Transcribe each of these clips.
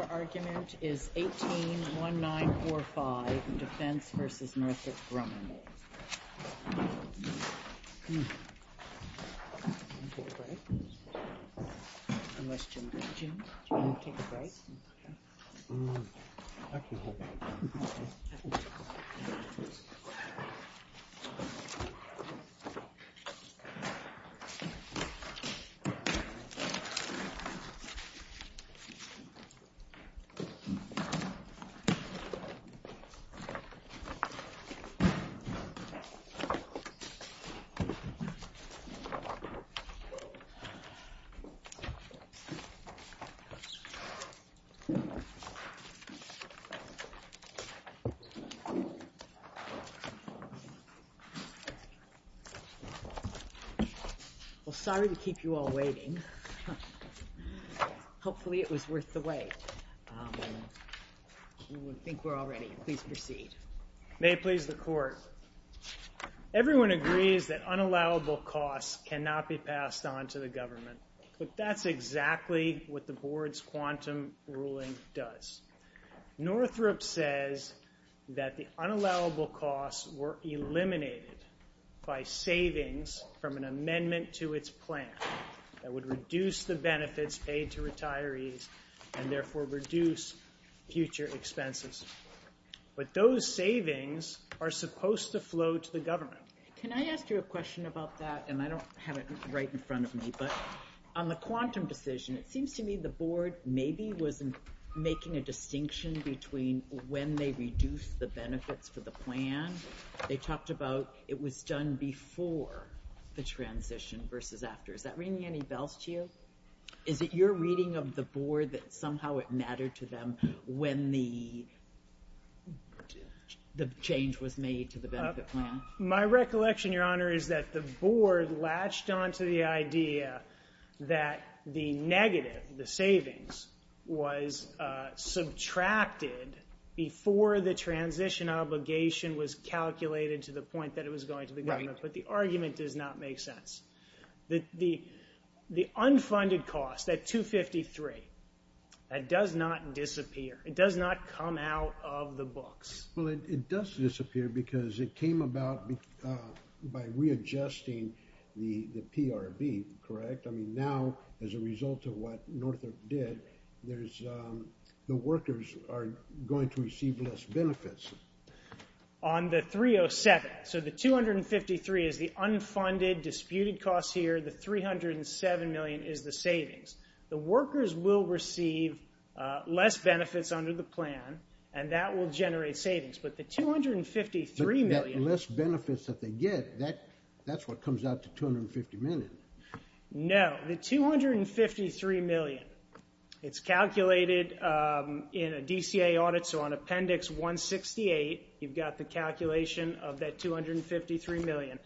Your argument is 18-1945, Defense v. Northrop Grumman. Well, sorry to keep you all waiting. Hopefully it was worth the wait. I think we're all ready. Please proceed. May it please the Court. Everyone agrees that unallowable costs cannot be passed on to the government, but that's exactly what the Board's quantum ruling does. Northrop says that the unallowable costs were eliminated by savings from an amendment to its plan that would reduce the benefits paid to retirees and therefore reduce future expenses. But those savings are supposed to flow to the government. Can I ask you a question about that? And I don't have it right in front of me, but on the quantum decision, it seems to me the Board maybe was making a distinction between when they reduced the benefits for the plan. They talked about it was done before the transition versus after. Is that ringing any bells to you? Is it your reading of the Board that somehow it mattered to them when the change was made to the benefit plan? My recollection, Your Honor, is that the Board latched onto the idea that the negative, the savings, was subtracted before the transition obligation was calculated to the point that it was going to the government. But the argument does not make sense. The unfunded cost, that 253, that does not disappear. It does not come out of the books. Well, it does disappear because it came about by readjusting the PRB, correct? I mean, now as a result of what Northrop did, the workers are going to receive less benefits. On the 307, so the 253 is the unfunded, disputed cost here. The 307 million is the savings. The workers will receive less benefits under the plan, and that will generate savings. But the 253 million- The less benefits that they get, that's what comes out to 250 million. No, the 253 million. It's calculated in a DCA audit, so on Appendix 168, you've got the calculation of that 253 million.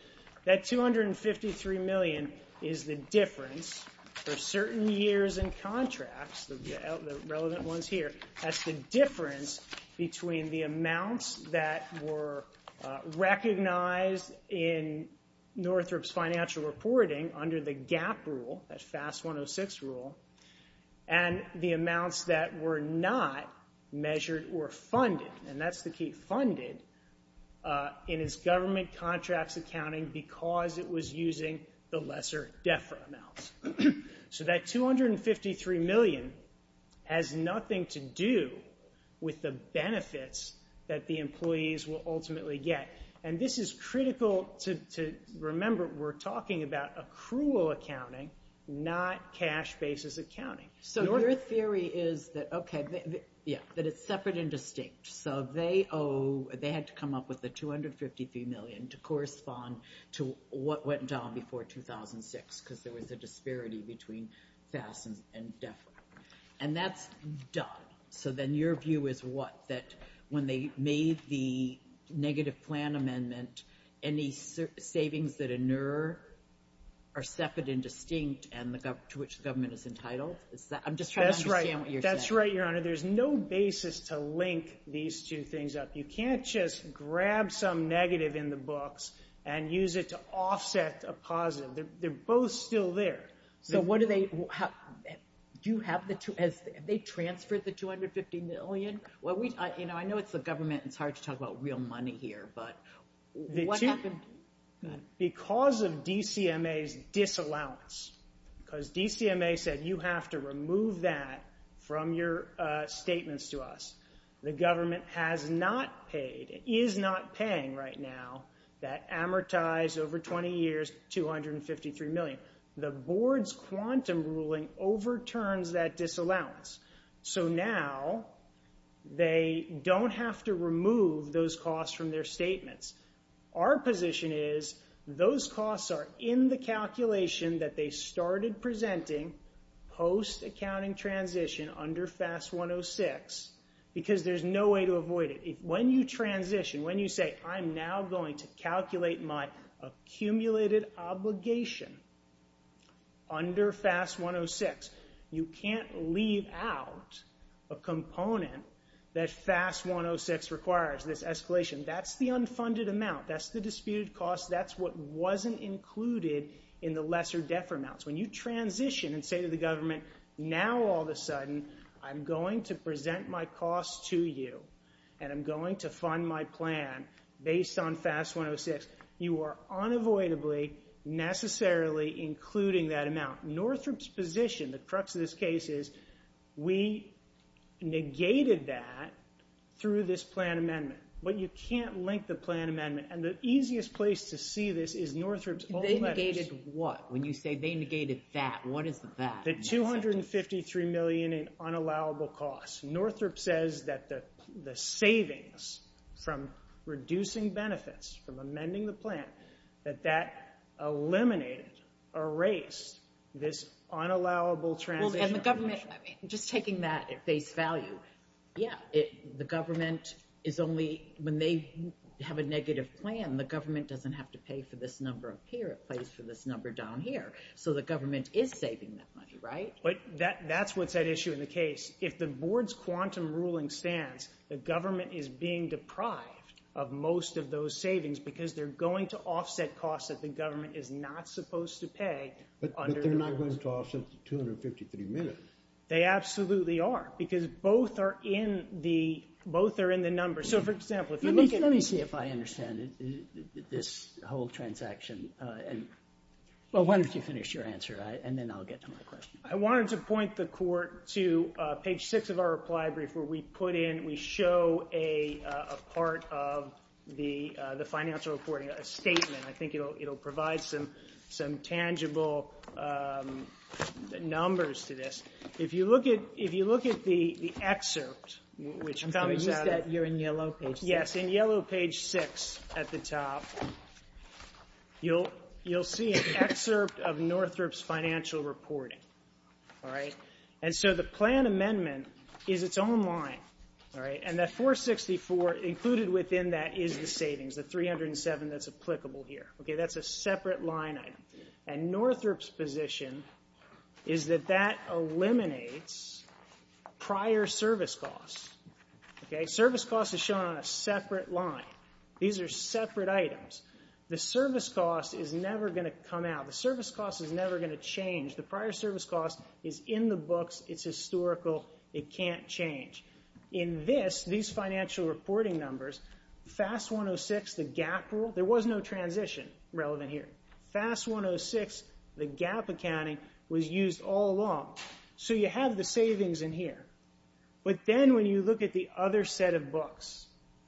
That 253 million is the difference for certain years and contracts, the relevant ones here, that's the difference between the amounts that were recognized in Northrop's financial reporting under the GAAP rule, that FAS 106 rule, and the amounts that were not measured or funded, and that's the key, funded, in his government contracts accounting because it was using the lesser DEFRA amounts. So that 253 million has nothing to do with the benefits that the employees will ultimately get. And this is critical to remember. We're talking about accrual accounting, not cash basis accounting. So your theory is that it's separate and distinct. So they had to come up with the 253 million to correspond to what went down before 2006 because there was a disparity between FAS and DEFRA, and that's done. So then your view is what, that when they made the negative plan amendment, any savings that inure are separate and distinct to which the government is entitled? I'm just trying to understand what you're saying. That's right, Your Honor. There's no basis to link these two things up. You can't just grab some negative in the books and use it to offset a positive. They're both still there. Have they transferred the 250 million? I know it's the government, and it's hard to talk about real money here, but what happened? Because of DCMA's disallowance, because DCMA said, you have to remove that from your statements to us. The government has not paid, is not paying right now, that amortized over 20 years 253 million. The board's quantum ruling overturns that disallowance. So now they don't have to remove those costs from their statements. Our position is those costs are in the calculation that they started presenting post-accounting transition under FAS 106 because there's no way to avoid it. When you transition, when you say, I'm now going to calculate my accumulated obligation under FAS 106, you can't leave out a component that FAS 106 requires, this escalation. That's the unfunded amount. That's the disputed cost. That's what wasn't included in the lesser-defer amounts. When you transition and say to the government, now all of a sudden I'm going to present my costs to you and I'm going to fund my plan based on FAS 106, you are unavoidably necessarily including that amount. Northrop's position, the crux of this case is, we negated that through this plan amendment, but you can't link the plan amendment. And the easiest place to see this is Northrop's old letters. They negated what? When you say they negated that, what is that? The $253 million in unallowable costs. Northrop says that the savings from reducing benefits, from amending the plan, that that eliminated, erased this unallowable transition obligation. And the government, just taking that at face value, yeah, the government is only, when they have a negative plan, the government doesn't have to pay for this number up here, it pays for this number down here. So the government is saving that money, right? But that's what's at issue in the case. If the board's quantum ruling stands, the government is being deprived of most of those savings because they're going to offset costs that the government is not supposed to pay. But they're not going to offset the $253 million. They absolutely are, because both are in the numbers. Let me see if I understand this whole transaction. Well, why don't you finish your answer, and then I'll get to my question. I wanted to point the Court to page 6 of our reply brief where we put in, we show a part of the financial reporting, a statement. I think it'll provide some tangible numbers to this. If you look at the excerpt, which comes out of... I'm confused that you're in yellow page 6. Yes, in yellow page 6 at the top, you'll see an excerpt of Northrop's financial reporting. And so the plan amendment is its own line, and that $464 million included within that is the savings, the $307 million that's applicable here. That's a separate line item. And Northrop's position is that that eliminates prior service costs. Service costs are shown on a separate line. These are separate items. The service cost is never going to come out. The service cost is never going to change. The prior service cost is in the books. It's historical. It can't change. In this, these financial reporting numbers, FAST-106, the GAAP rule, there was no transition relevant here. FAST-106, the GAAP accounting, was used all along. But then when you look at the other set of books,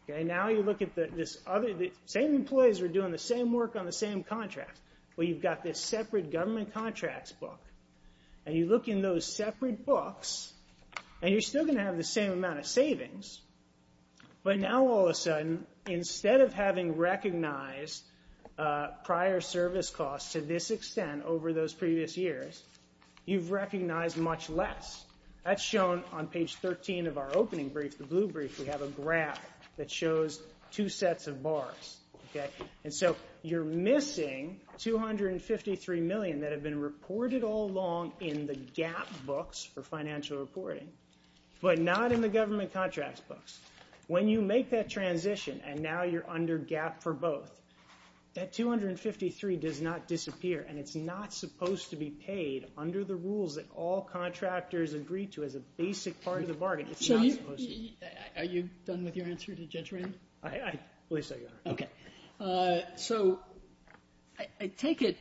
now you look at this other – the same employees are doing the same work on the same contracts. Well, you've got this separate government contracts book, and you look in those separate books, and you're still going to have the same amount of savings. But now all of a sudden, instead of having recognized prior service costs to this extent over those previous years, you've recognized much less. That's shown on page 13 of our opening brief, the blue brief. We have a graph that shows two sets of bars. And so you're missing $253 million that had been reported all along in the GAAP books for financial reporting, but not in the government contracts books. When you make that transition, and now you're under GAAP for both, that $253 does not disappear, and it's not supposed to be paid under the rules that all contractors agree to as a basic part of the bargain. So are you done with your answer to Judge Rand? I believe so, Your Honor. Okay. So I take it,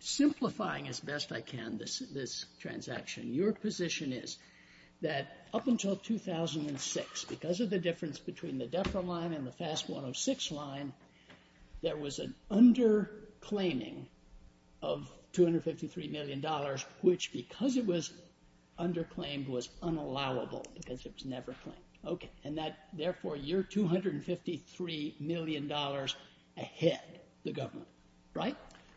simplifying as best I can this transaction, your position is that up until 2006, because of the difference between the DEFRA line and the FAST-106 line, there was an underclaiming of $253 million, which, because it was underclaimed, was unallowable because it was never claimed. Okay. And that, therefore, you're $253 million ahead, the government. Right?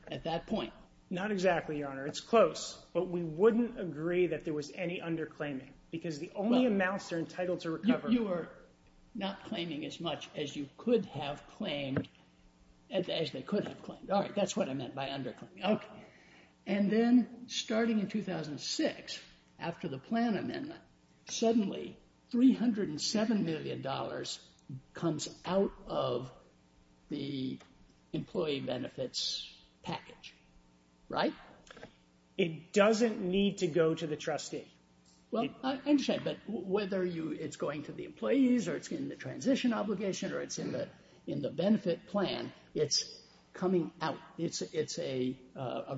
At that point. Not exactly, Your Honor. It's close. But we wouldn't agree that there was any underclaiming because the only amounts are entitled to recover. You are not claiming as much as you could have claimed, as they could have claimed. All right. That's what I meant by underclaiming. Okay. And then, starting in 2006, after the plan amendment, suddenly $307 million comes out of the employee benefits package. Right? It doesn't need to go to the trustee. Well, I understand, but whether it's going to the employees or it's in the transition obligation or it's in the benefit plan, it's coming out. It's a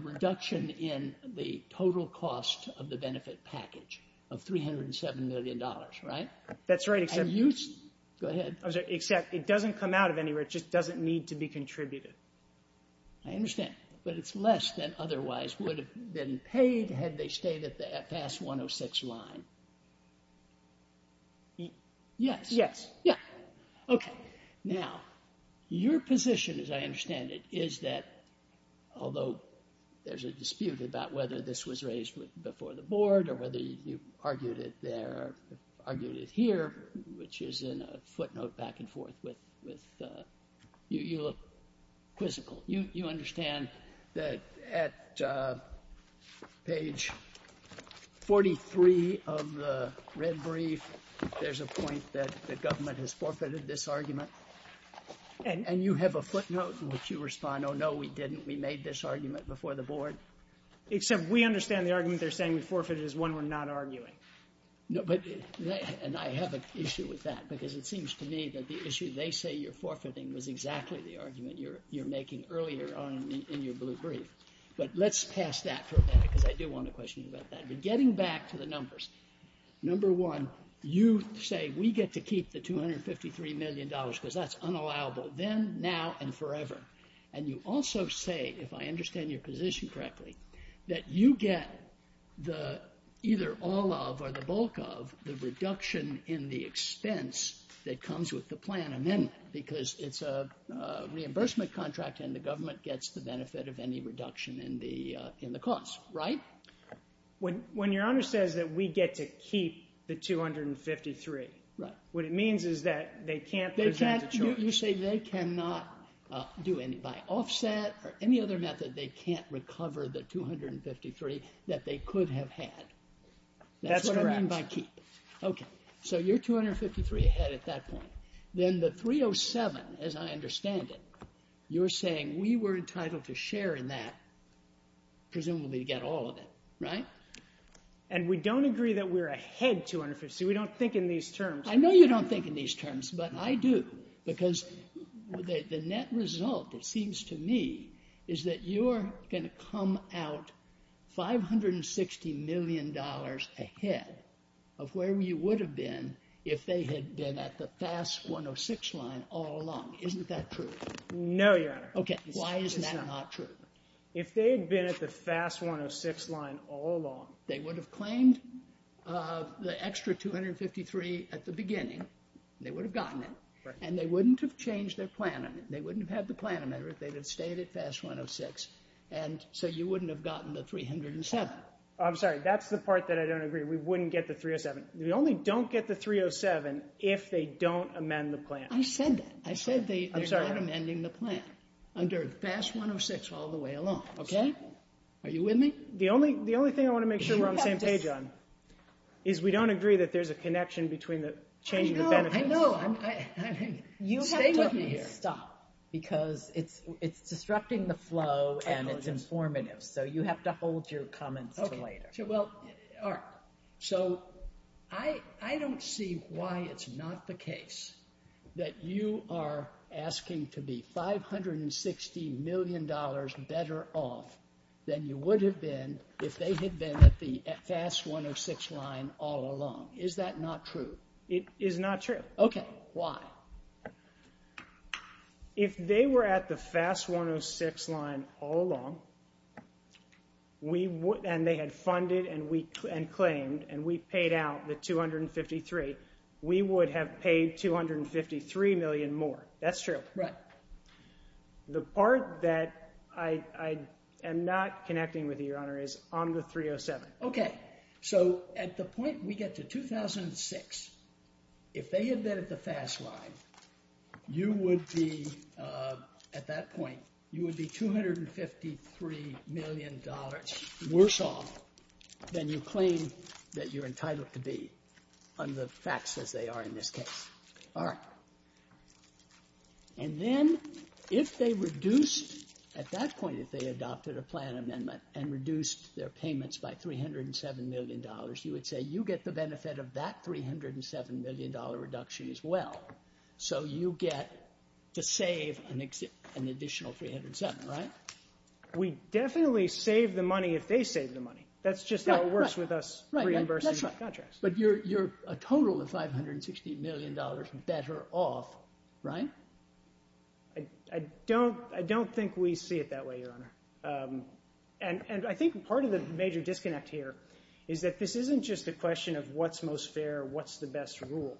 reduction in the total cost of the benefit package of $307 million. Right? That's right. Go ahead. Except it doesn't come out of anywhere. It just doesn't need to be contributed. I understand. But it's less than otherwise would have been paid had they stayed at the FAS 106 line. Yes. Yes. Yeah. Okay. Now, your position, as I understand it, is that although there's a dispute about whether this was raised before the board or whether you argued it there or argued it here, which is in a footnote back and forth, you look quizzical. You understand that at page 43 of the red brief, there's a point that the government has forfeited this argument. And you have a footnote in which you respond, oh, no, we didn't. We made this argument before the board. Except we understand the argument they're saying we forfeited is one we're not arguing. And I have an issue with that because it seems to me that the issue they say you're forfeiting was exactly the argument you're making earlier in your blue brief. But let's pass that for a minute because I do want to question you about that. But getting back to the numbers, number one, you say we get to keep the $253 million because that's unallowable then, now, and forever. And you also say, if I understand your position correctly, that you get either all of or the bulk of the reduction in the expense that comes with the plan amendment because it's a reimbursement contract and the government gets the benefit of any reduction in the cost. Right? When your Honor says that we get to keep the $253, what it means is that they can't present a charge. You say they cannot do any, by offset or any other method, they can't recover the $253 that they could have had. That's what I mean by keep. That's correct. Okay. So you're $253 ahead at that point. Then the $307, as I understand it, you're saying we were entitled to share in that, presumably to get all of it. Right? And we don't agree that we're ahead $253. We don't think in these terms. I know you don't think in these terms, but I do. Because the net result, it seems to me, is that you're going to come out $560 million ahead of where you would have been if they had been at the FAS 106 line all along. Isn't that true? No, Your Honor. Okay. Why is that not true? If they had been at the FAS 106 line all along... They would have claimed the extra $253 at the beginning. They would have gotten it. Right. And they wouldn't have changed their plan. They wouldn't have had the plan amended if they had stayed at FAS 106. And so you wouldn't have gotten the $307. I'm sorry. That's the part that I don't agree. We wouldn't get the $307. We only don't get the $307 if they don't amend the plan. I said that. I said they're not amending the plan. Under FAS 106 all the way along. Okay. Are you with me? The only thing I want to make sure we're on the same page on is we don't agree that there's a connection between the change in the benefits. I know. I know. Stay with me here. You have to stop because it's disrupting the flow and it's informative, so you have to hold your comments until later. Okay. Well, all right. So I don't see why it's not the case that you are asking to be $560 million better off than you would have been if they had been at the FAS 106 line all along. Is that not true? It is not true. Okay. Why? If they were at the FAS 106 line all along and they had funded and claimed and we paid out the $253, we would have paid $253 million more. That's true. Right. The part that I am not connecting with you, Your Honor, is on the 307. Okay. So at the point we get to 2006, if they had been at the FAS line, you would be, at that point, you would be $253 million worse off than you claim that you're entitled to be on the fax as they are in this case. All right. And then if they reduced, at that point, if they adopted a plan amendment and reduced their payments by $307 million, you would say you get the benefit of that $307 million reduction as well. So you get to save an additional $307 million, right? We definitely save the money if they save the money. That's just how it works with us reimbursing contracts. But you're a total of $560 million better off, right? I don't think we see it that way, Your Honor. And I think part of the major disconnect here is that this isn't just a question of what's most fair, what's the best rule.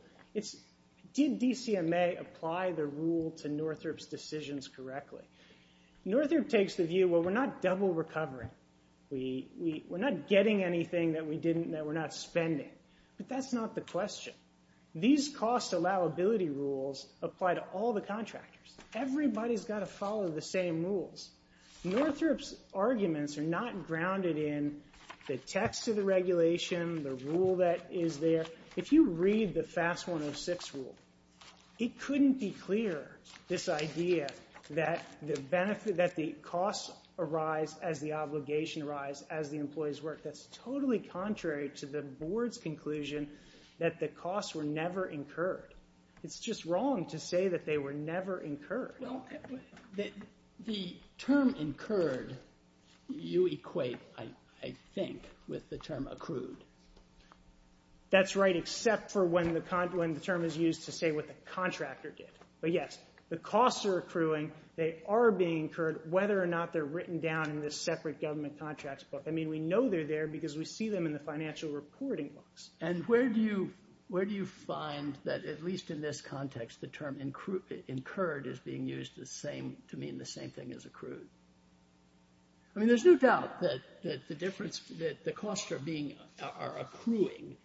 Did DCMA apply the rule to Northrop's decisions correctly? Northrop takes the view, well, we're not double recovering. We're not getting anything that we're not spending. But that's not the question. These cost allowability rules apply to all the contractors. Everybody's got to follow the same rules. Northrop's arguments are not grounded in the text of the regulation, the rule that is there. If you read the FAS 106 rule, it couldn't be clearer, this idea, that the costs arise as the obligation arise as the employees work. That's totally contrary to the board's conclusion that the costs were never incurred. It's just wrong to say that they were never incurred. The term incurred, you equate, I think, with the term accrued. That's right, except for when the term is used to say what the contractor did. But yes, the costs are accruing. They are being incurred, whether or not they're written down in this separate government contracts book. I mean, we know they're there because we see them in the financial reporting books. And where do you find that, at least in this context, the term incurred is being used to mean the same thing as accrued? I mean, there's no doubt that the costs are accruing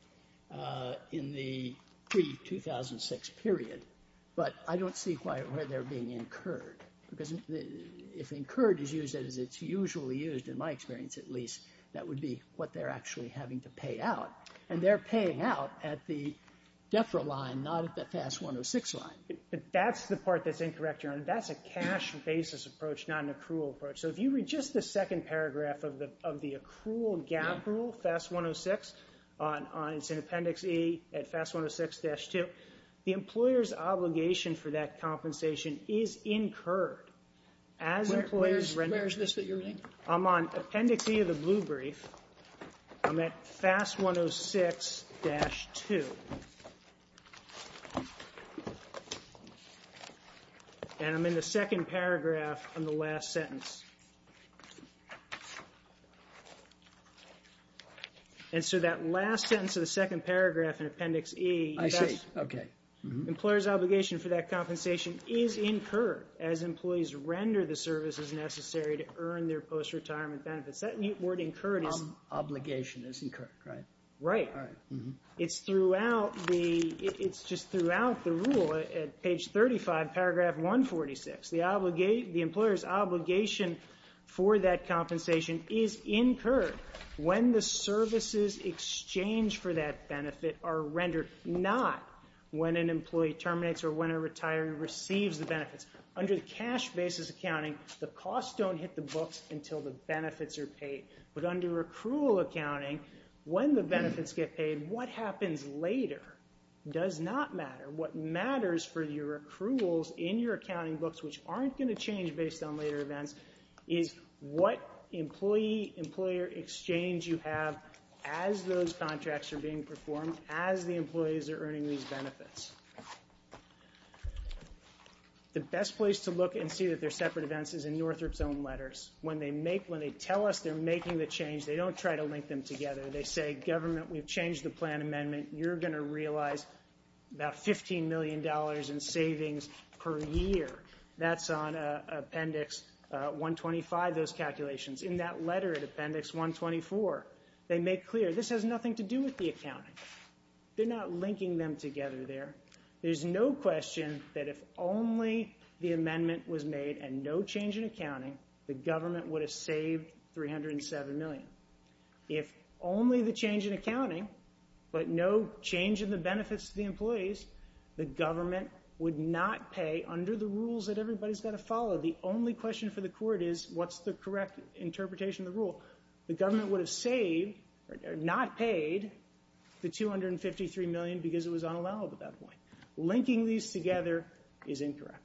in the pre-2006 period. But I don't see quite where they're being incurred. Because if incurred is used as it's usually used, in my experience at least, that would be what they're actually having to pay out. And they're paying out at the DEFRA line, not at the FAS 106 line. That's the part that's incorrect, Your Honor. That's a cash basis approach, not an accrual approach. So if you read just the second paragraph of the accrual gap rule, FAS 106, it's in Appendix E at FAS 106-2. The employer's obligation for that compensation is incurred. Where is this that you're reading? I'm on Appendix E of the blue brief. I'm at FAS 106-2. And I'm in the second paragraph in the last sentence. And so that last sentence of the second paragraph in Appendix E... Employer's obligation for that compensation is incurred as employees render the services necessary to earn their post-retirement benefits. That word incurred is... Obligation is incurred, right? Right. It's just throughout the rule at page 35, paragraph 146. The employer's obligation for that compensation is incurred when the services exchanged for that benefit are rendered not when an employee terminates or when a retiree receives the benefits. Under the cash basis accounting, the costs don't hit the books until the benefits are paid. But under accrual accounting, when the benefits get paid, what happens later does not matter. What matters for your accruals in your accounting books, which aren't going to change based on later events, is what employee-employer exchange you have as those contracts are being performed, as the employees are earning these benefits. The best place to look and see that they're separate events is in Northrop's own letters. When they tell us they're making the change, they don't try to link them together. They say, Government, we've changed the plan amendment. You're going to realize about $15 million in savings per year. That's on Appendix 125, those calculations. In that letter at Appendix 124, they make clear, this has nothing to do with the accounting. They're not linking them together there. There's no question that if only the amendment was made and no change in accounting, the government would have saved $307 million. If only the change in accounting, but no change in the benefits to the employees, the government would not pay under the rules that everybody's got to follow. The only question for the court is, what's the correct interpretation of the rule? The government would have saved, or not paid, the $253 million because it was unallowed at that point. Linking these together is incorrect.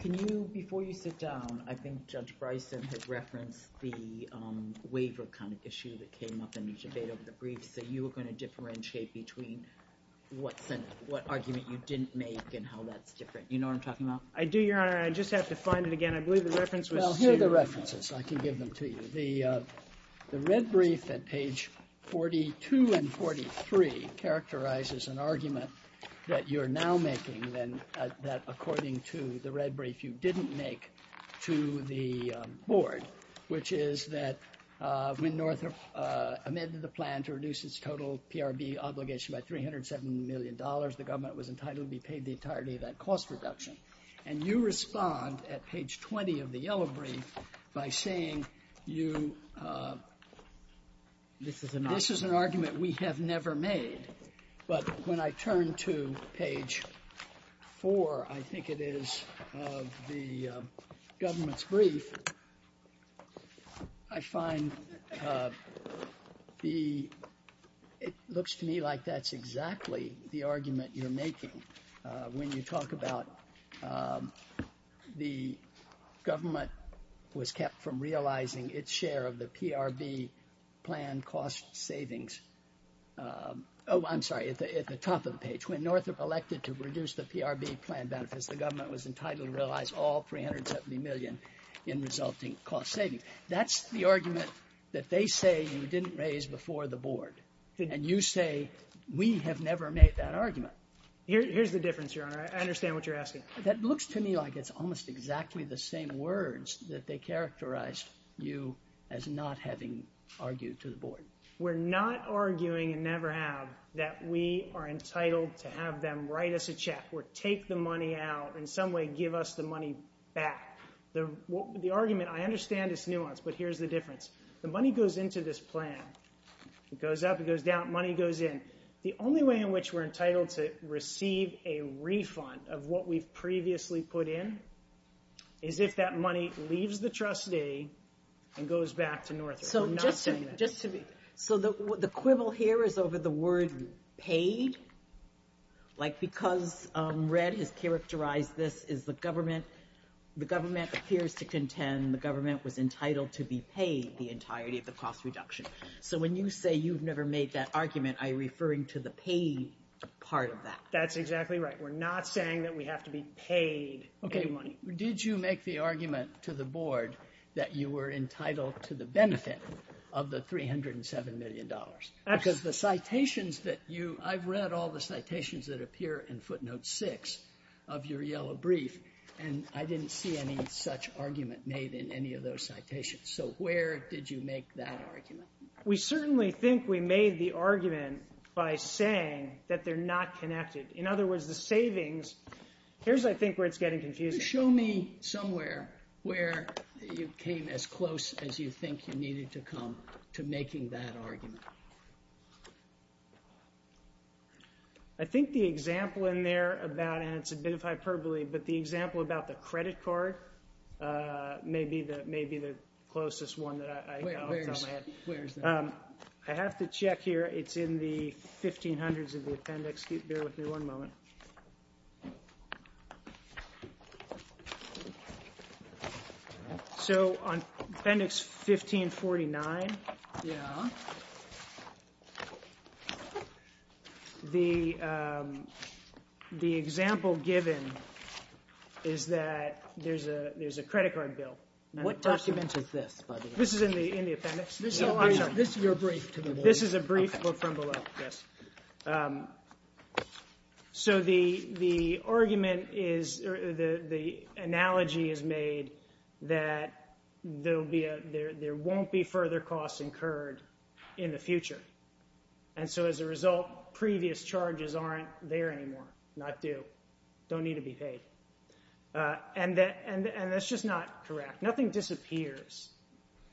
Can you, before you sit down, I think Judge Bryson had referenced the waiver kind of issue that came up in the debate over the briefs, that you were going to differentiate between what argument you didn't make and how that's different. You know what I'm talking about? I do, Your Honor. I just have to find it again. I believe the reference was to... Well, here are the references. I can give them to you. The red brief at page 42 and 43 characterizes an argument that you're now making that according to the red brief you didn't make to the board, which is that when North amended the plan to reduce its total PRB obligation by $307 million, the government was entitled to be paid the entirety of that cost reduction. And you respond at page 20 of the yellow brief by saying you... This is an argument we have never made. But when I turn to page 4, I think it is, of the government's brief, I find the... When you talk about the government was kept from realizing its share of the PRB plan cost savings... Oh, I'm sorry, at the top of the page. When North elected to reduce the PRB plan benefits, the government was entitled to realize all $370 million in resulting cost savings. That's the argument that they say you didn't raise before the board. And you say we have never made that argument. Here's the difference, Your Honor. I understand what you're asking. That looks to me like it's almost exactly the same words that they characterized you as not having argued to the board. We're not arguing, and never have, that we are entitled to have them write us a check or take the money out, in some way give us the money back. The argument, I understand its nuance, but here's the difference. The money goes into this plan. It goes up, it goes down, money goes in. The only way in which we're entitled to receive a refund of what we've previously put in is if that money leaves the trustee and goes back to North. I'm not saying that. So the quibble here is over the word paid? Because Red has characterized this, the government appears to contend the government was entitled to be paid the entirety of the cost reduction. So when you say you've never made that argument, are you referring to the paid part of that? That's exactly right. We're not saying that we have to be paid any money. Did you make the argument to the board that you were entitled to the benefit of the $307 million? Absolutely. Because the citations that you, I've read all the citations that appear in footnote 6 of your yellow brief, and I didn't see any such argument made in any of those citations. So where did you make that argument? We certainly think we made the argument by saying that they're not connected. In other words, the savings, here's I think where it's getting confusing. Show me somewhere where you came as close as you think you needed to come to making that argument. I think the example in there about, and it's a bit of hyperbole, but the example about the credit card may be the closest one that I have. Where is that? I have to check here. It's in the 1500s of the appendix. Bear with me one moment. So on appendix 1549, Yeah. the example given is that there's a credit card bill. What document is this, by the way? This is in the appendix. This is your brief. This is a brief from below, yes. So the argument is, or the analogy is made that there won't be further costs incurred in the future. And so as a result, previous charges aren't there anymore. Not due. Don't need to be paid. And that's just not correct. Nothing disappears.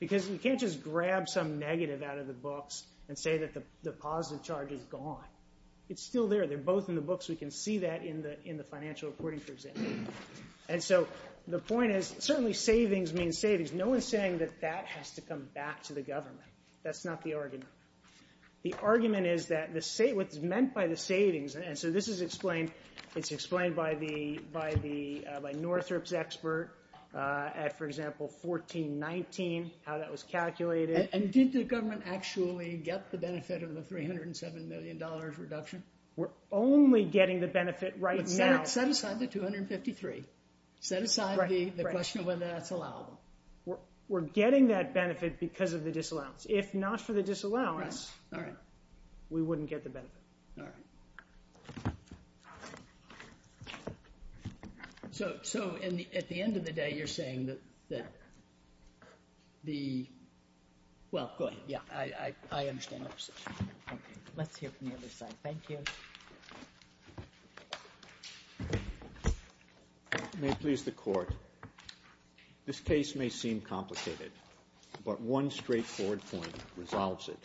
Because you can't just grab some negative out of the books and say that the positive charge is gone. It's still there. They're both in the books. We can see that in the financial reporting for example. And so the point is, certainly savings means savings. No one's saying that that has to come back to the government. That's not the argument. The argument is that what's meant by the savings, and so this is explained, it's explained by Northrop's expert at, for example, 1419, how that was calculated. And did the government actually get the benefit of the $307 million reduction? We're only getting the benefit right now. Set aside the 253. Set aside the question of whether that's allowable. We're getting that benefit because of the disallowance. If not for the disallowance, we wouldn't get the benefit. So at the end of the day, you're saying that the... Well, go ahead. Yeah, I understand. Let's hear from the other side. Thank you. May it please the Court. This case may seem complicated, but one straightforward point resolves it.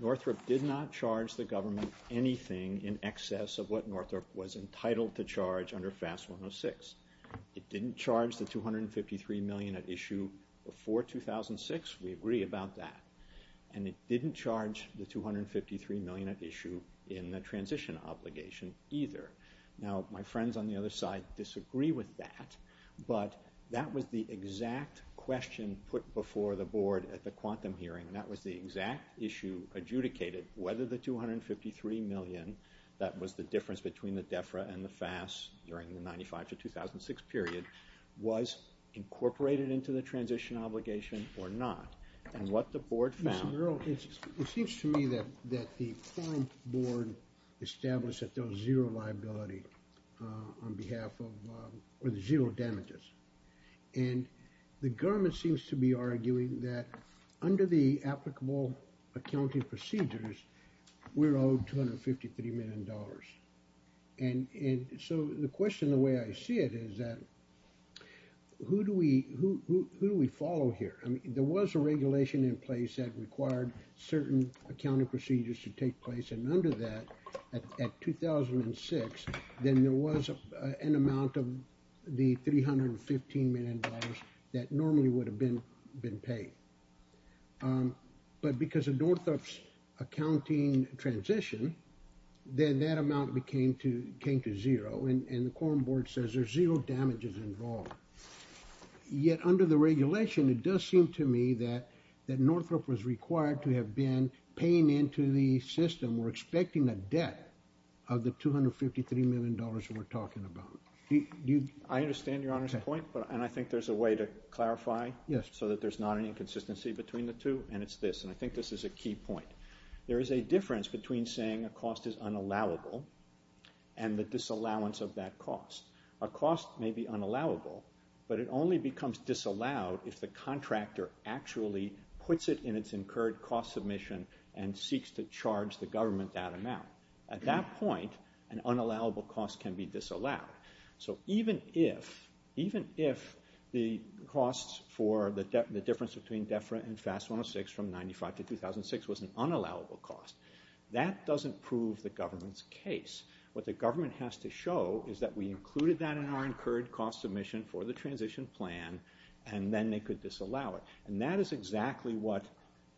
Northrop did not charge the government anything in excess of what Northrop was entitled to charge under FAST 106. It didn't charge the $253 million at issue before 2006. We agree about that. And it didn't charge the $253 million at issue in the transition obligation either. Now, my friends on the other side disagree with that, but that was the exact question put before the Board at the quantum hearing, and that was the exact issue adjudicated, whether the $253 million, that was the difference between the DEFRA and the FAST during the 1995-2006 period, was incorporated into the transition obligation or not. And what the Board found... Mr. Merrill, it seems to me that the current Board established that there was zero liability on behalf of... or zero damages. And the government seems to be arguing that under the applicable accounting procedures, we're owed $253 million. And so the question, the way I see it, is that who do we follow here? I mean, there was a regulation in place that required certain accounting procedures to take place, and under that, at 2006, then there was an amount of the $315 million that normally would have been paid. But because of Northrop's accounting transition, then that amount came to zero, and the quorum board says there's zero damages involved. Yet under the regulation, it does seem to me that Northrop was required to have been paying into the system we're expecting a debt of the $253 million that we're talking about. I understand Your Honor's point, and I think there's a way to clarify so that there's not any inconsistency between the two, and it's this, and I think this is a key point. There is a difference between saying a cost is unallowable and the disallowance of that cost. A cost may be unallowable, but it only becomes disallowed if the contractor actually puts it in its incurred cost submission and seeks to charge the government that amount. At that point, an unallowable cost can be disallowed. So even if the costs for the difference between DEFRA and FAST-106 from 1995 to 2006 was an unallowable cost, that doesn't prove the government's case. What the government has to show is that we included that in our incurred cost submission for the transition plan, and then they could disallow it. And that is exactly what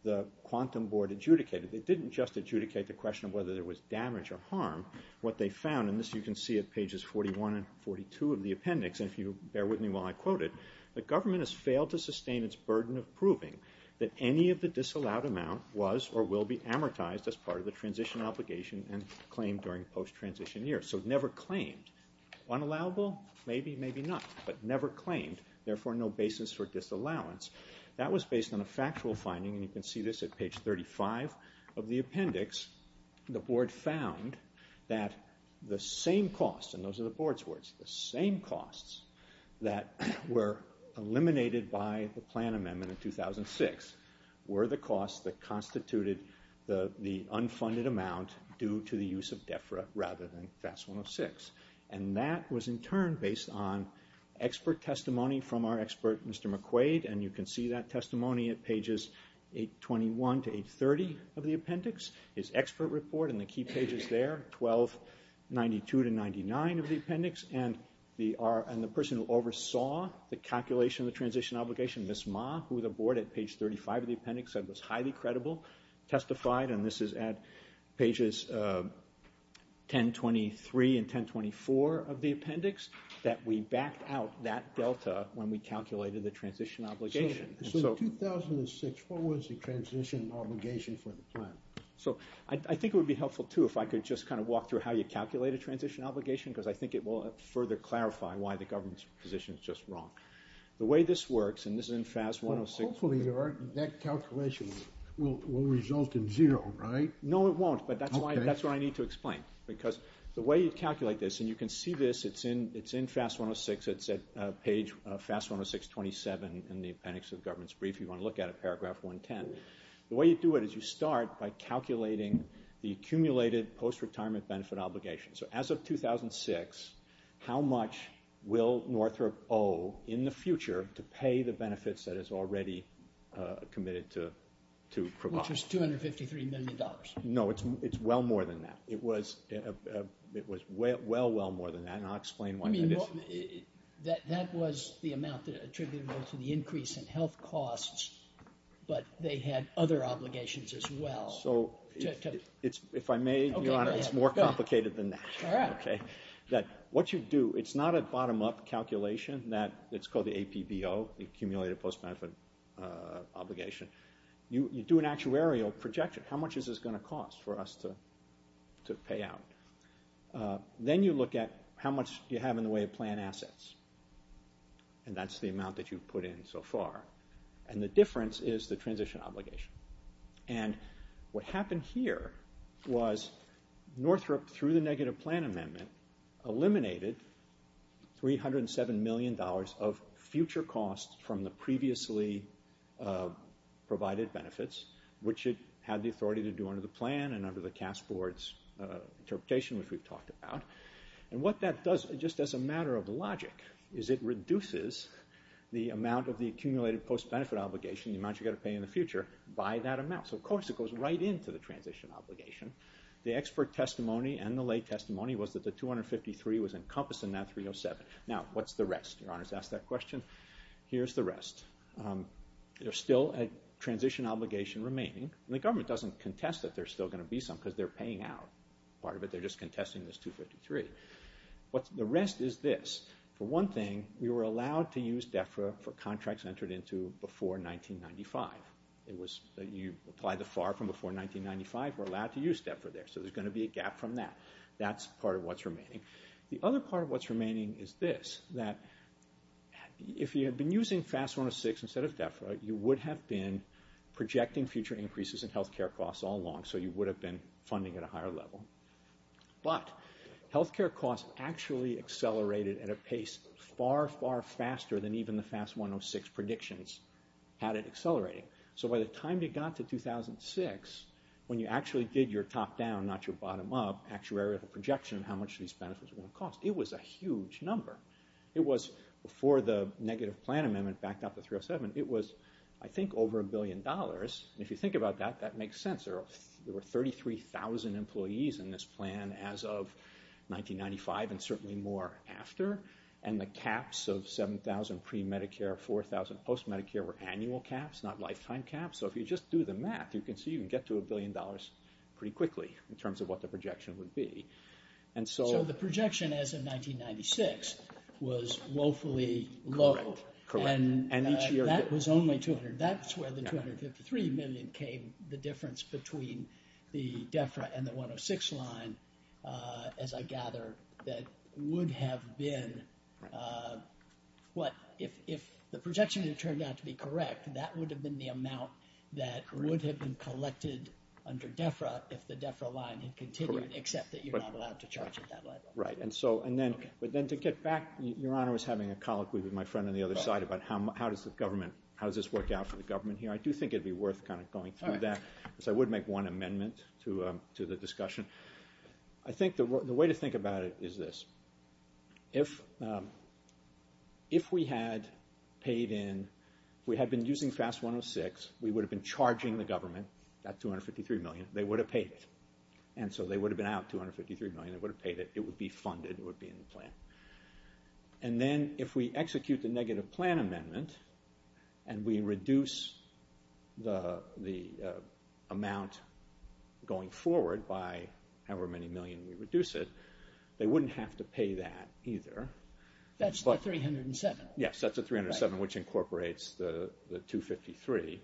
the quantum board adjudicated. They didn't just adjudicate the question of whether there was damage or harm. What they found, and this you can see at pages 41 and 42 of the appendix, and if you bear with me while I quote it, the government has failed to sustain its burden of proving that any of the disallowed amount was or will be amortized as part of the transition obligation and claim during post-transition years. So never claimed. Unallowable? Maybe, maybe not. But never claimed, therefore no basis for disallowance. That was based on a factual finding, and you can see this at page 35 of the appendix. The board found that the same costs, and those are the board's words, the same costs that were eliminated by the plan amendment in 2006 were the costs that constituted the unfunded amount due to the use of DEFRA rather than FAST-106. And that was in turn based on expert testimony from our expert, Mr. McQuaid, and you can see that testimony at pages 821 to 830 of the appendix. His expert report in the key pages there, 1292 to 99 of the appendix, and the person who oversaw the calculation of the transition obligation, Ms. Ma, who the board at page 35 of the appendix said was highly credible, testified, and this is at pages 1023 and 1024 of the appendix, that we backed out that delta when we calculated the transition obligation. So in 2006, what was the transition obligation for the plan? So I think it would be helpful, too, if I could just kind of walk through how you calculate a transition obligation, because I think it will further clarify why the government's position is just wrong. The way this works, and this is in FAST-106. Hopefully that calculation will result in zero, right? No, it won't, but that's what I need to explain. Because the way you calculate this, and you can see this, it's in FAST-106, it's at page FAST-106.27 in the appendix of the government's brief if you want to look at it, paragraph 110. The way you do it is you start by calculating the accumulated post-retirement benefit obligation. So as of 2006, how much will Northrop owe in the future to pay the benefits that it's already committed to provide? Which is $253 million. No, it's well more than that. It was well, well more than that, and I'll explain why. That was the amount attributable to the increase in health costs, but they had other obligations as well. So if I may, Your Honor, it's more complicated than that. All right. What you do, it's not a bottom-up calculation. It's called the APBO, the accumulated post-benefit obligation. You do an actuarial projection. How much is this going to cost for us to pay out? Then you look at how much you have in the way of plan assets, and that's the amount that you've put in so far. And the difference is the transition obligation. And what happened here was Northrop, through the negative plan amendment, eliminated $307 million of future costs from the previously provided benefits, which it had the authority to do under the plan and under the Cast Board's interpretation, which we've talked about. And what that does, just as a matter of logic, is it reduces the amount of the accumulated post-benefit obligation, the amount you've got to pay in the future, by that amount. So, of course, it goes right into the transition obligation. The expert testimony and the lay testimony was that the $253 was encompassed in that $307. Now, what's the rest? Your Honor's asked that question. Here's the rest. There's still a transition obligation remaining, and the government doesn't contest that there's still going to be some because they're paying out part of it. They're just contesting this $253. The rest is this. For one thing, we were allowed to use DEFRA for contracts entered into before 1995. You apply the FAR from before 1995. We're allowed to use DEFRA there, so there's going to be a gap from that. That's part of what's remaining. The other part of what's remaining is this, that if you had been using FAST-106 instead of DEFRA, you would have been projecting future increases in health care costs all along, so you would have been funding at a higher level. But health care costs actually accelerated at a pace far, far faster than even the FAST-106 predictions had it accelerating. So by the time you got to 2006, when you actually did your top-down, not your bottom-up, actuarial projection of how much these benefits were going to cost, it was a huge number. It was, before the negative plan amendment backed up the 307, it was, I think, over a billion dollars. If you think about that, that makes sense. There were 33,000 employees in this plan as of 1995, and certainly more after. And the caps of 7,000 pre-Medicare, 4,000 post-Medicare were annual caps, not lifetime caps. So if you just do the math, you can see you can get to a billion dollars pretty quickly in terms of what the projection would be. So the projection as of 1996 was woefully low. Correct. And that was only 200. That's where the 253 million came, the difference between the DEFRA and the 106 line, as I gather, that would have been what? If the projection had turned out to be correct, that would have been the amount that would have been collected under DEFRA if the DEFRA line had continued, except that you're not allowed to charge at that level. Right. But then to get back, Your Honor was having a colloquy with my friend on the other side about how does this work out for the government here. I do think it would be worth kind of going through that because I would make one amendment to the discussion. I think the way to think about it is this. If we had paid in, if we had been using FAS 106, we would have been charging the government that 253 million, they would have paid it. And so they would have been out 253 million, they would have paid it, it would be funded, it would be in the plan. And then if we execute the negative plan amendment and we reduce the amount going forward by however many million we reduce it, they wouldn't have to pay that either. That's the 307. Yes, that's the 307, which incorporates the 253.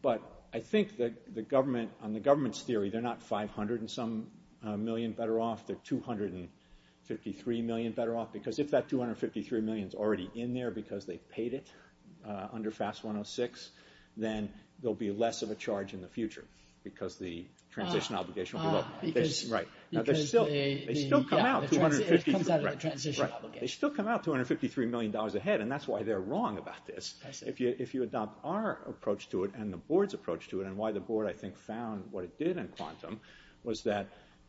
But I think that the government, on the government's theory, they're not 500 and some million better off, they're 253 million better off. Because if that 253 million is already in there because they paid it under FAS 106, then there'll be less of a charge in the future because the transition obligation will go up. They still come out $253 million ahead, and that's why they're wrong about this. If you adopt our approach to it and the board's approach to it and why the board, I think, found what it did in quantum was that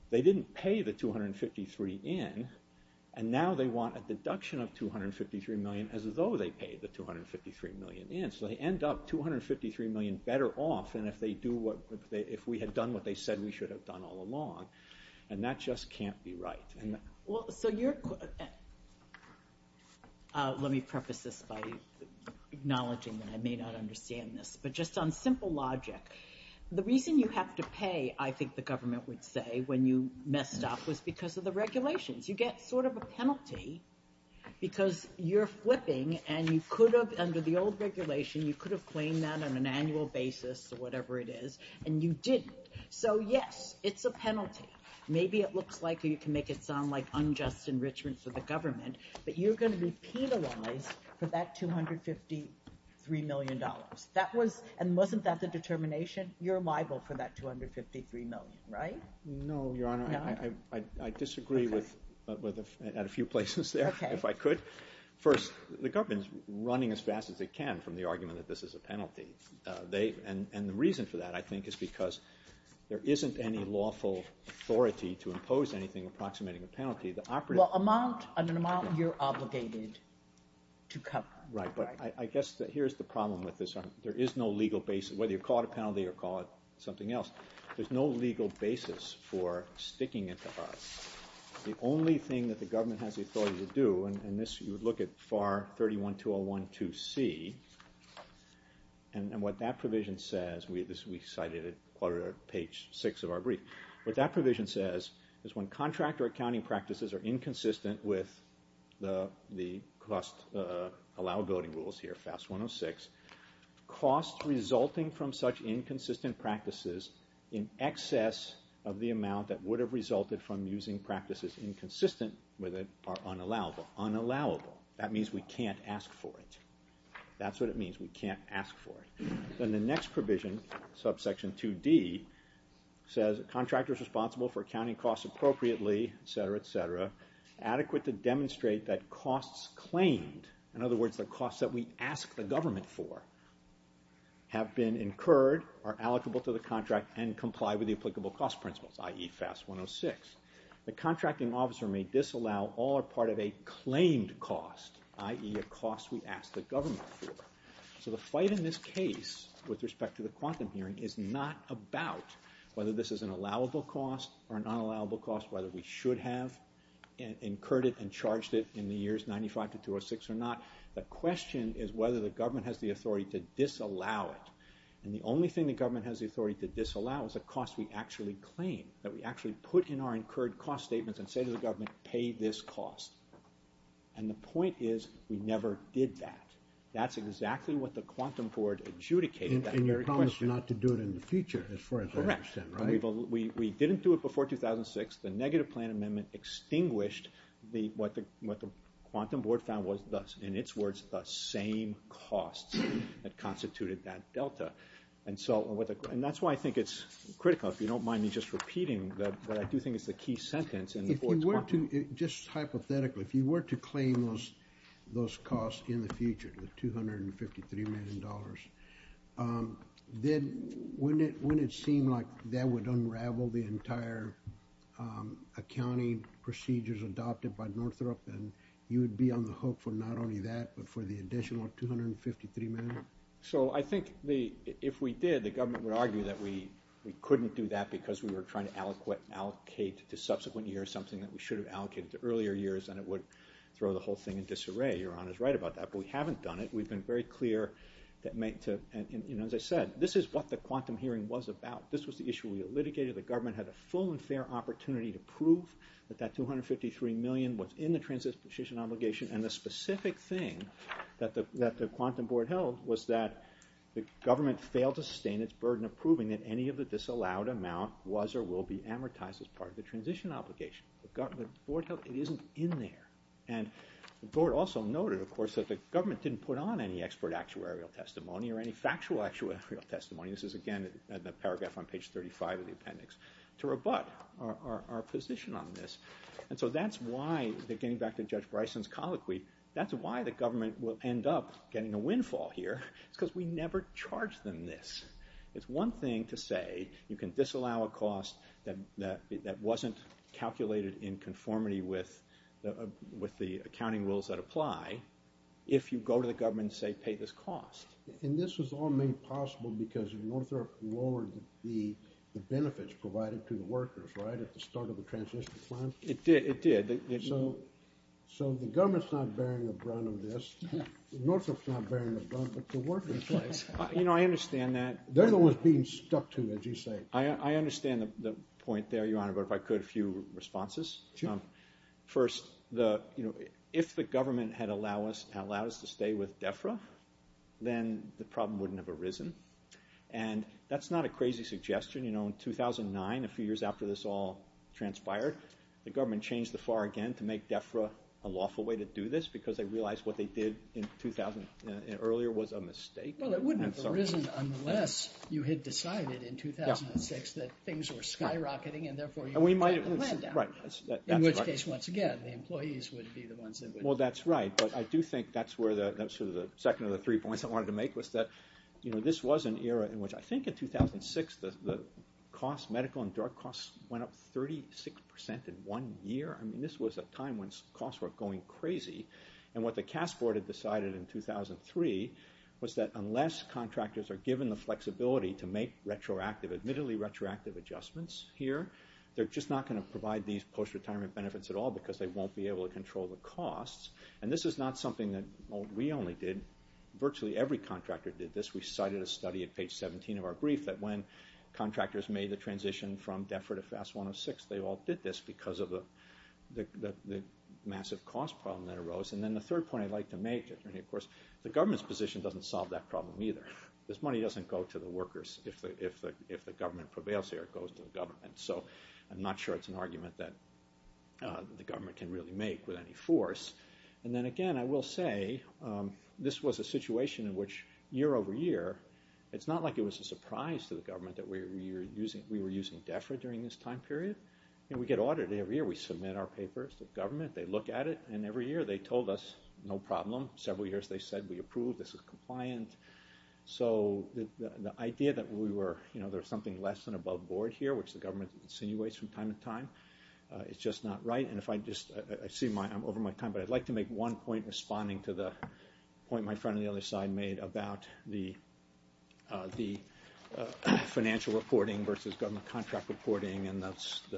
they didn't pay the 253 in, and now they want a deduction of 253 million as though they paid the 253 million in. So they end up 253 million better off than if we had done what they said we should have done all along. And that just can't be right. Let me preface this by acknowledging that I may not understand this, but just on simple logic, the reason you have to pay, I think the government would say, when you messed up was because of the regulations. You get sort of a penalty because you're flipping, and you could have, under the old regulation, you could have claimed that on an annual basis or whatever it is, and you didn't. So, yes, it's a penalty. Maybe it looks like or you can make it sound like unjust enrichment for the government, but you're going to be penalized for that $253 million. And wasn't that the determination? You're liable for that 253 million, right? No, Your Honor. I disagree at a few places there, if I could. First, the government is running as fast as they can from the argument that this is a penalty. And the reason for that, I think, is because there isn't any lawful authority to impose anything approximating a penalty. Well, an amount you're obligated to cover. Right, but I guess here's the problem with this. There is no legal basis. Whether you call it a penalty or call it something else, there's no legal basis for sticking it to us. The only thing that the government has the authority to do, and this you would look at FAR 31-201-2C, and what that provision says, we cited it on page 6 of our brief, what that provision says is when contractor accounting practices are inconsistent with the cost allowability rules here, costs resulting from such inconsistent practices in excess of the amount that would have resulted from using practices inconsistent with it are unallowable. Unallowable. That means we can't ask for it. That's what it means. We can't ask for it. Then the next provision, subsection 2D, says contractors responsible for accounting costs appropriately, et cetera, et cetera, adequate to demonstrate that costs claimed, in other words the costs that we ask the government for, have been incurred, are allocable to the contract, and comply with the applicable cost principles, i.e. FAS 106. The contracting officer may disallow all or part of a claimed cost, i.e. a cost we ask the government for. So the fight in this case with respect to the quantum hearing is not about whether this is an allowable cost or an unallowable cost, whether we should have incurred it and charged it in the years 95 to 206 or not. The question is whether the government has the authority to disallow it. And the only thing the government has the authority to disallow is a cost we actually claim, that we actually put in our incurred cost statements and say to the government, pay this cost. And the point is we never did that. That's exactly what the quantum board adjudicated. And you promised not to do it in the future, as far as I understand, right? Correct. We didn't do it before 2006. The negative plan amendment extinguished what the quantum board found was, in its words, the same costs that constituted that delta. And that's why I think it's critical, if you don't mind me just repeating what I do think is the key sentence. Just hypothetically, if you were to claim those costs in the future, the $253 million, then wouldn't it seem like that would unravel the entire accounting procedures adopted by Northrop, and you would be on the hook for not only that, but for the additional $253 million? So I think if we did, the government would argue that we couldn't do that because we were trying to allocate to subsequent years something that we should have allocated to earlier years, and it would throw the whole thing in disarray. Your Honor is right about that. But we haven't done it. We've been very clear that, as I said, this is what the quantum hearing was about. This was the issue we litigated. The government had a full and fair opportunity to prove that that $253 million was in the transition obligation, and the specific thing that the quantum board held was that the government failed to sustain its burden of proving that any of the disallowed amount was or will be amortized as part of the transition obligation. The board held it isn't in there. And the board also noted, of course, that the government didn't put on any expert actuarial testimony or any factual actuarial testimony. This is, again, the paragraph on page 35 of the appendix, to rebut our position on this. And so that's why, getting back to Judge Bryson's colloquy, that's why the government will end up getting a windfall here. It's because we never charged them this. It's one thing to say you can disallow a cost that wasn't calculated in conformity with the accounting rules that apply if you go to the government and say pay this cost. And this was all made possible because Northrop lowered the benefits provided to the workers, right, at the start of the transition plan? It did, it did. So the government's not bearing the brunt of this. Northrop's not bearing the brunt, but the workers are. You know, I understand that. They're the ones being stuck to, as you say. I understand the point there, Your Honor, but if I could, a few responses. Sure. First, if the government had allowed us to stay with DEFRA, then the problem wouldn't have arisen. And that's not a crazy suggestion. You know, in 2009, a few years after this all transpired, the government changed the FAR again to make DEFRA a lawful way to do this because they realized what they did earlier was a mistake. Well, it wouldn't have arisen unless you had decided in 2006 that things were skyrocketing and therefore you had to let them down. Right. In which case, once again, the employees would be the ones that would... Well, that's right. But I do think that's where the second of the three points I wanted to make was that, you know, this was an era in which I think in 2006 the medical and drug costs went up 36% in one year. I mean, this was a time when costs were going crazy. And what the CAS Board had decided in 2003 was that unless contractors are given the flexibility to make retroactive, admittedly retroactive adjustments here, they're just not going to provide these post-retirement benefits at all because they won't be able to control the costs. And this is not something that we only did. Virtually every contractor did this. We cited a study at page 17 of our brief that when contractors made the transition from DEFRA to FAS 106, they all did this because of the massive cost problem that arose. And then the third point I'd like to make, and, of course, the government's position doesn't solve that problem either. This money doesn't go to the workers. If the government prevails here, it goes to the government. So I'm not sure it's an argument that the government can really make with any force. And then, again, I will say this was a situation in which, year over year, it's not like it was a surprise to the government that we were using DEFRA during this time period. And we get audited every year. We submit our papers to the government, they look at it, and every year they told us, no problem. Several years they said, we approve, this is compliant. So the idea that there's something less than above board here, which the government insinuates from time to time, it's just not right. And I see I'm over my time, but I'd like to make one point responding to the point my friend on the other side made about the financial reporting versus government contract reporting and the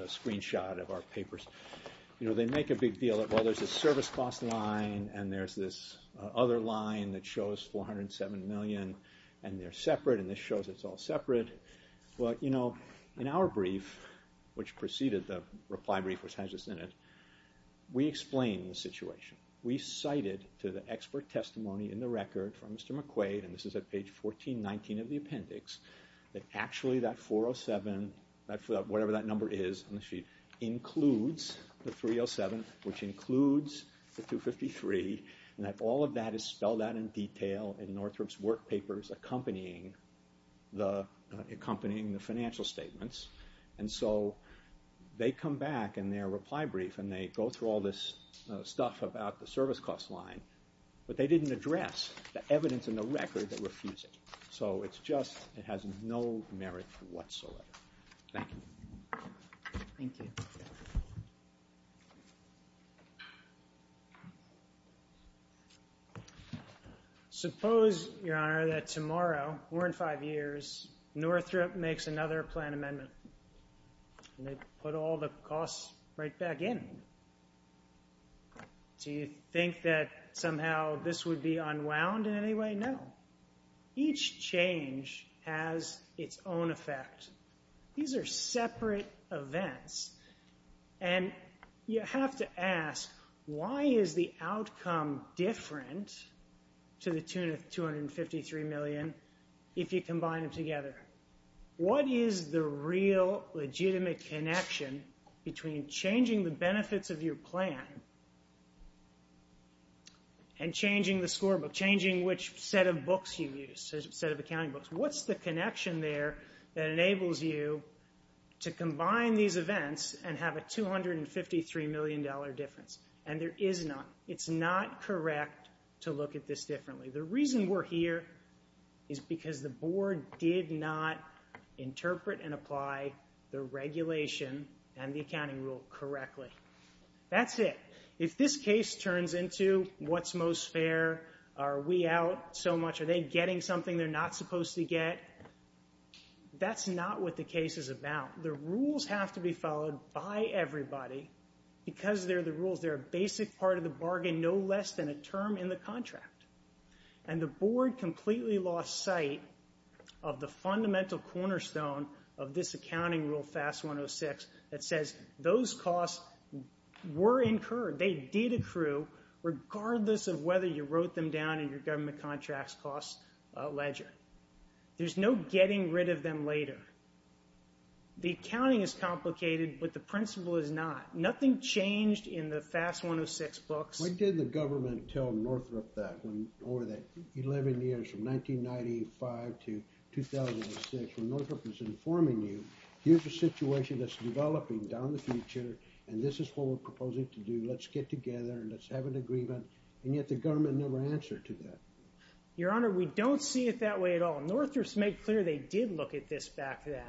screenshot of our papers. They make a big deal of, well, there's a service cost line and there's this other line that shows $407 million, and they're separate, and this shows it's all separate. Well, in our brief, which preceded the reply brief which has this in it, we explain the situation. We cited to the expert testimony in the record from Mr. McQuaid, and this is at page 1419 of the appendix, that actually that 407, whatever that number is on the sheet, includes the 307, which includes the 253, and that all of that is spelled out in detail in Northrop's work papers accompanying the financial statements. And so they come back in their reply brief and they go through all this stuff about the service cost line, but they didn't address the evidence in the record that refutes it. So it's just it has no merit whatsoever. Thank you. Thank you. Suppose, Your Honor, that tomorrow, more than five years, Northrop makes another plan amendment and they put all the costs right back in. Do you think that somehow this would be unwound in any way? No. Each change has its own effect. These are separate events, and you have to ask, why is the outcome different to the 253 million if you combine them together? What is the real legitimate connection between changing the benefits of your plan and changing the scorebook, changing which set of accounting books you use? What's the connection there that enables you to combine these events and have a $253 million difference? And there is none. It's not correct to look at this differently. The reason we're here is because the Board did not interpret and apply the regulation and the accounting rule correctly. That's it. If this case turns into what's most fair, are we out so much, are they getting something they're not supposed to get, that's not what the case is about. The rules have to be followed by everybody because they're the rules. in the contract. And the Board completely lost sight of the fundamental cornerstone of this accounting rule, FAST-106, that says those costs were incurred, they did accrue, regardless of whether you wrote them down in your government contracts cost ledger. There's no getting rid of them later. The accounting is complicated, but the principle is not. Nothing changed in the FAST-106 books. Why didn't the government tell Northrop that over the 11 years from 1995 to 2006, when Northrop was informing you, here's a situation that's developing down the future and this is what we're proposing to do, let's get together, let's have an agreement, and yet the government never answered to that. Your Honor, we don't see it that way at all. Northrop's made clear they did look at this back then.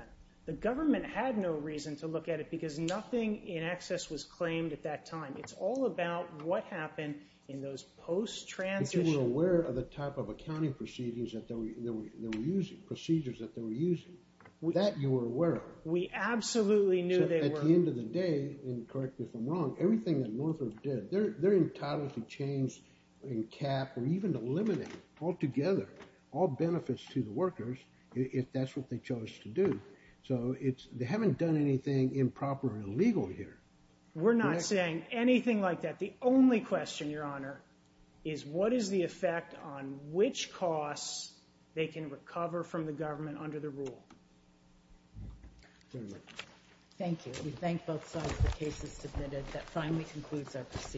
The government had no reason to look at it because nothing in excess was claimed at that time. It's all about what happened in those post-transitions. But you were aware of the type of accounting procedures that they were using, that you were aware of. We absolutely knew they were. At the end of the day, and correct me if I'm wrong, everything that Northrop did, they're entitled to change and cap or even eliminate altogether all benefits to the workers if that's what they chose to do. So they haven't done anything improper or illegal here. We're not saying anything like that. The only question, Your Honor, is what is the effect on which costs they can recover from the government under the rule? Thank you. We thank both sides of the cases submitted. That finally concludes our proceedings.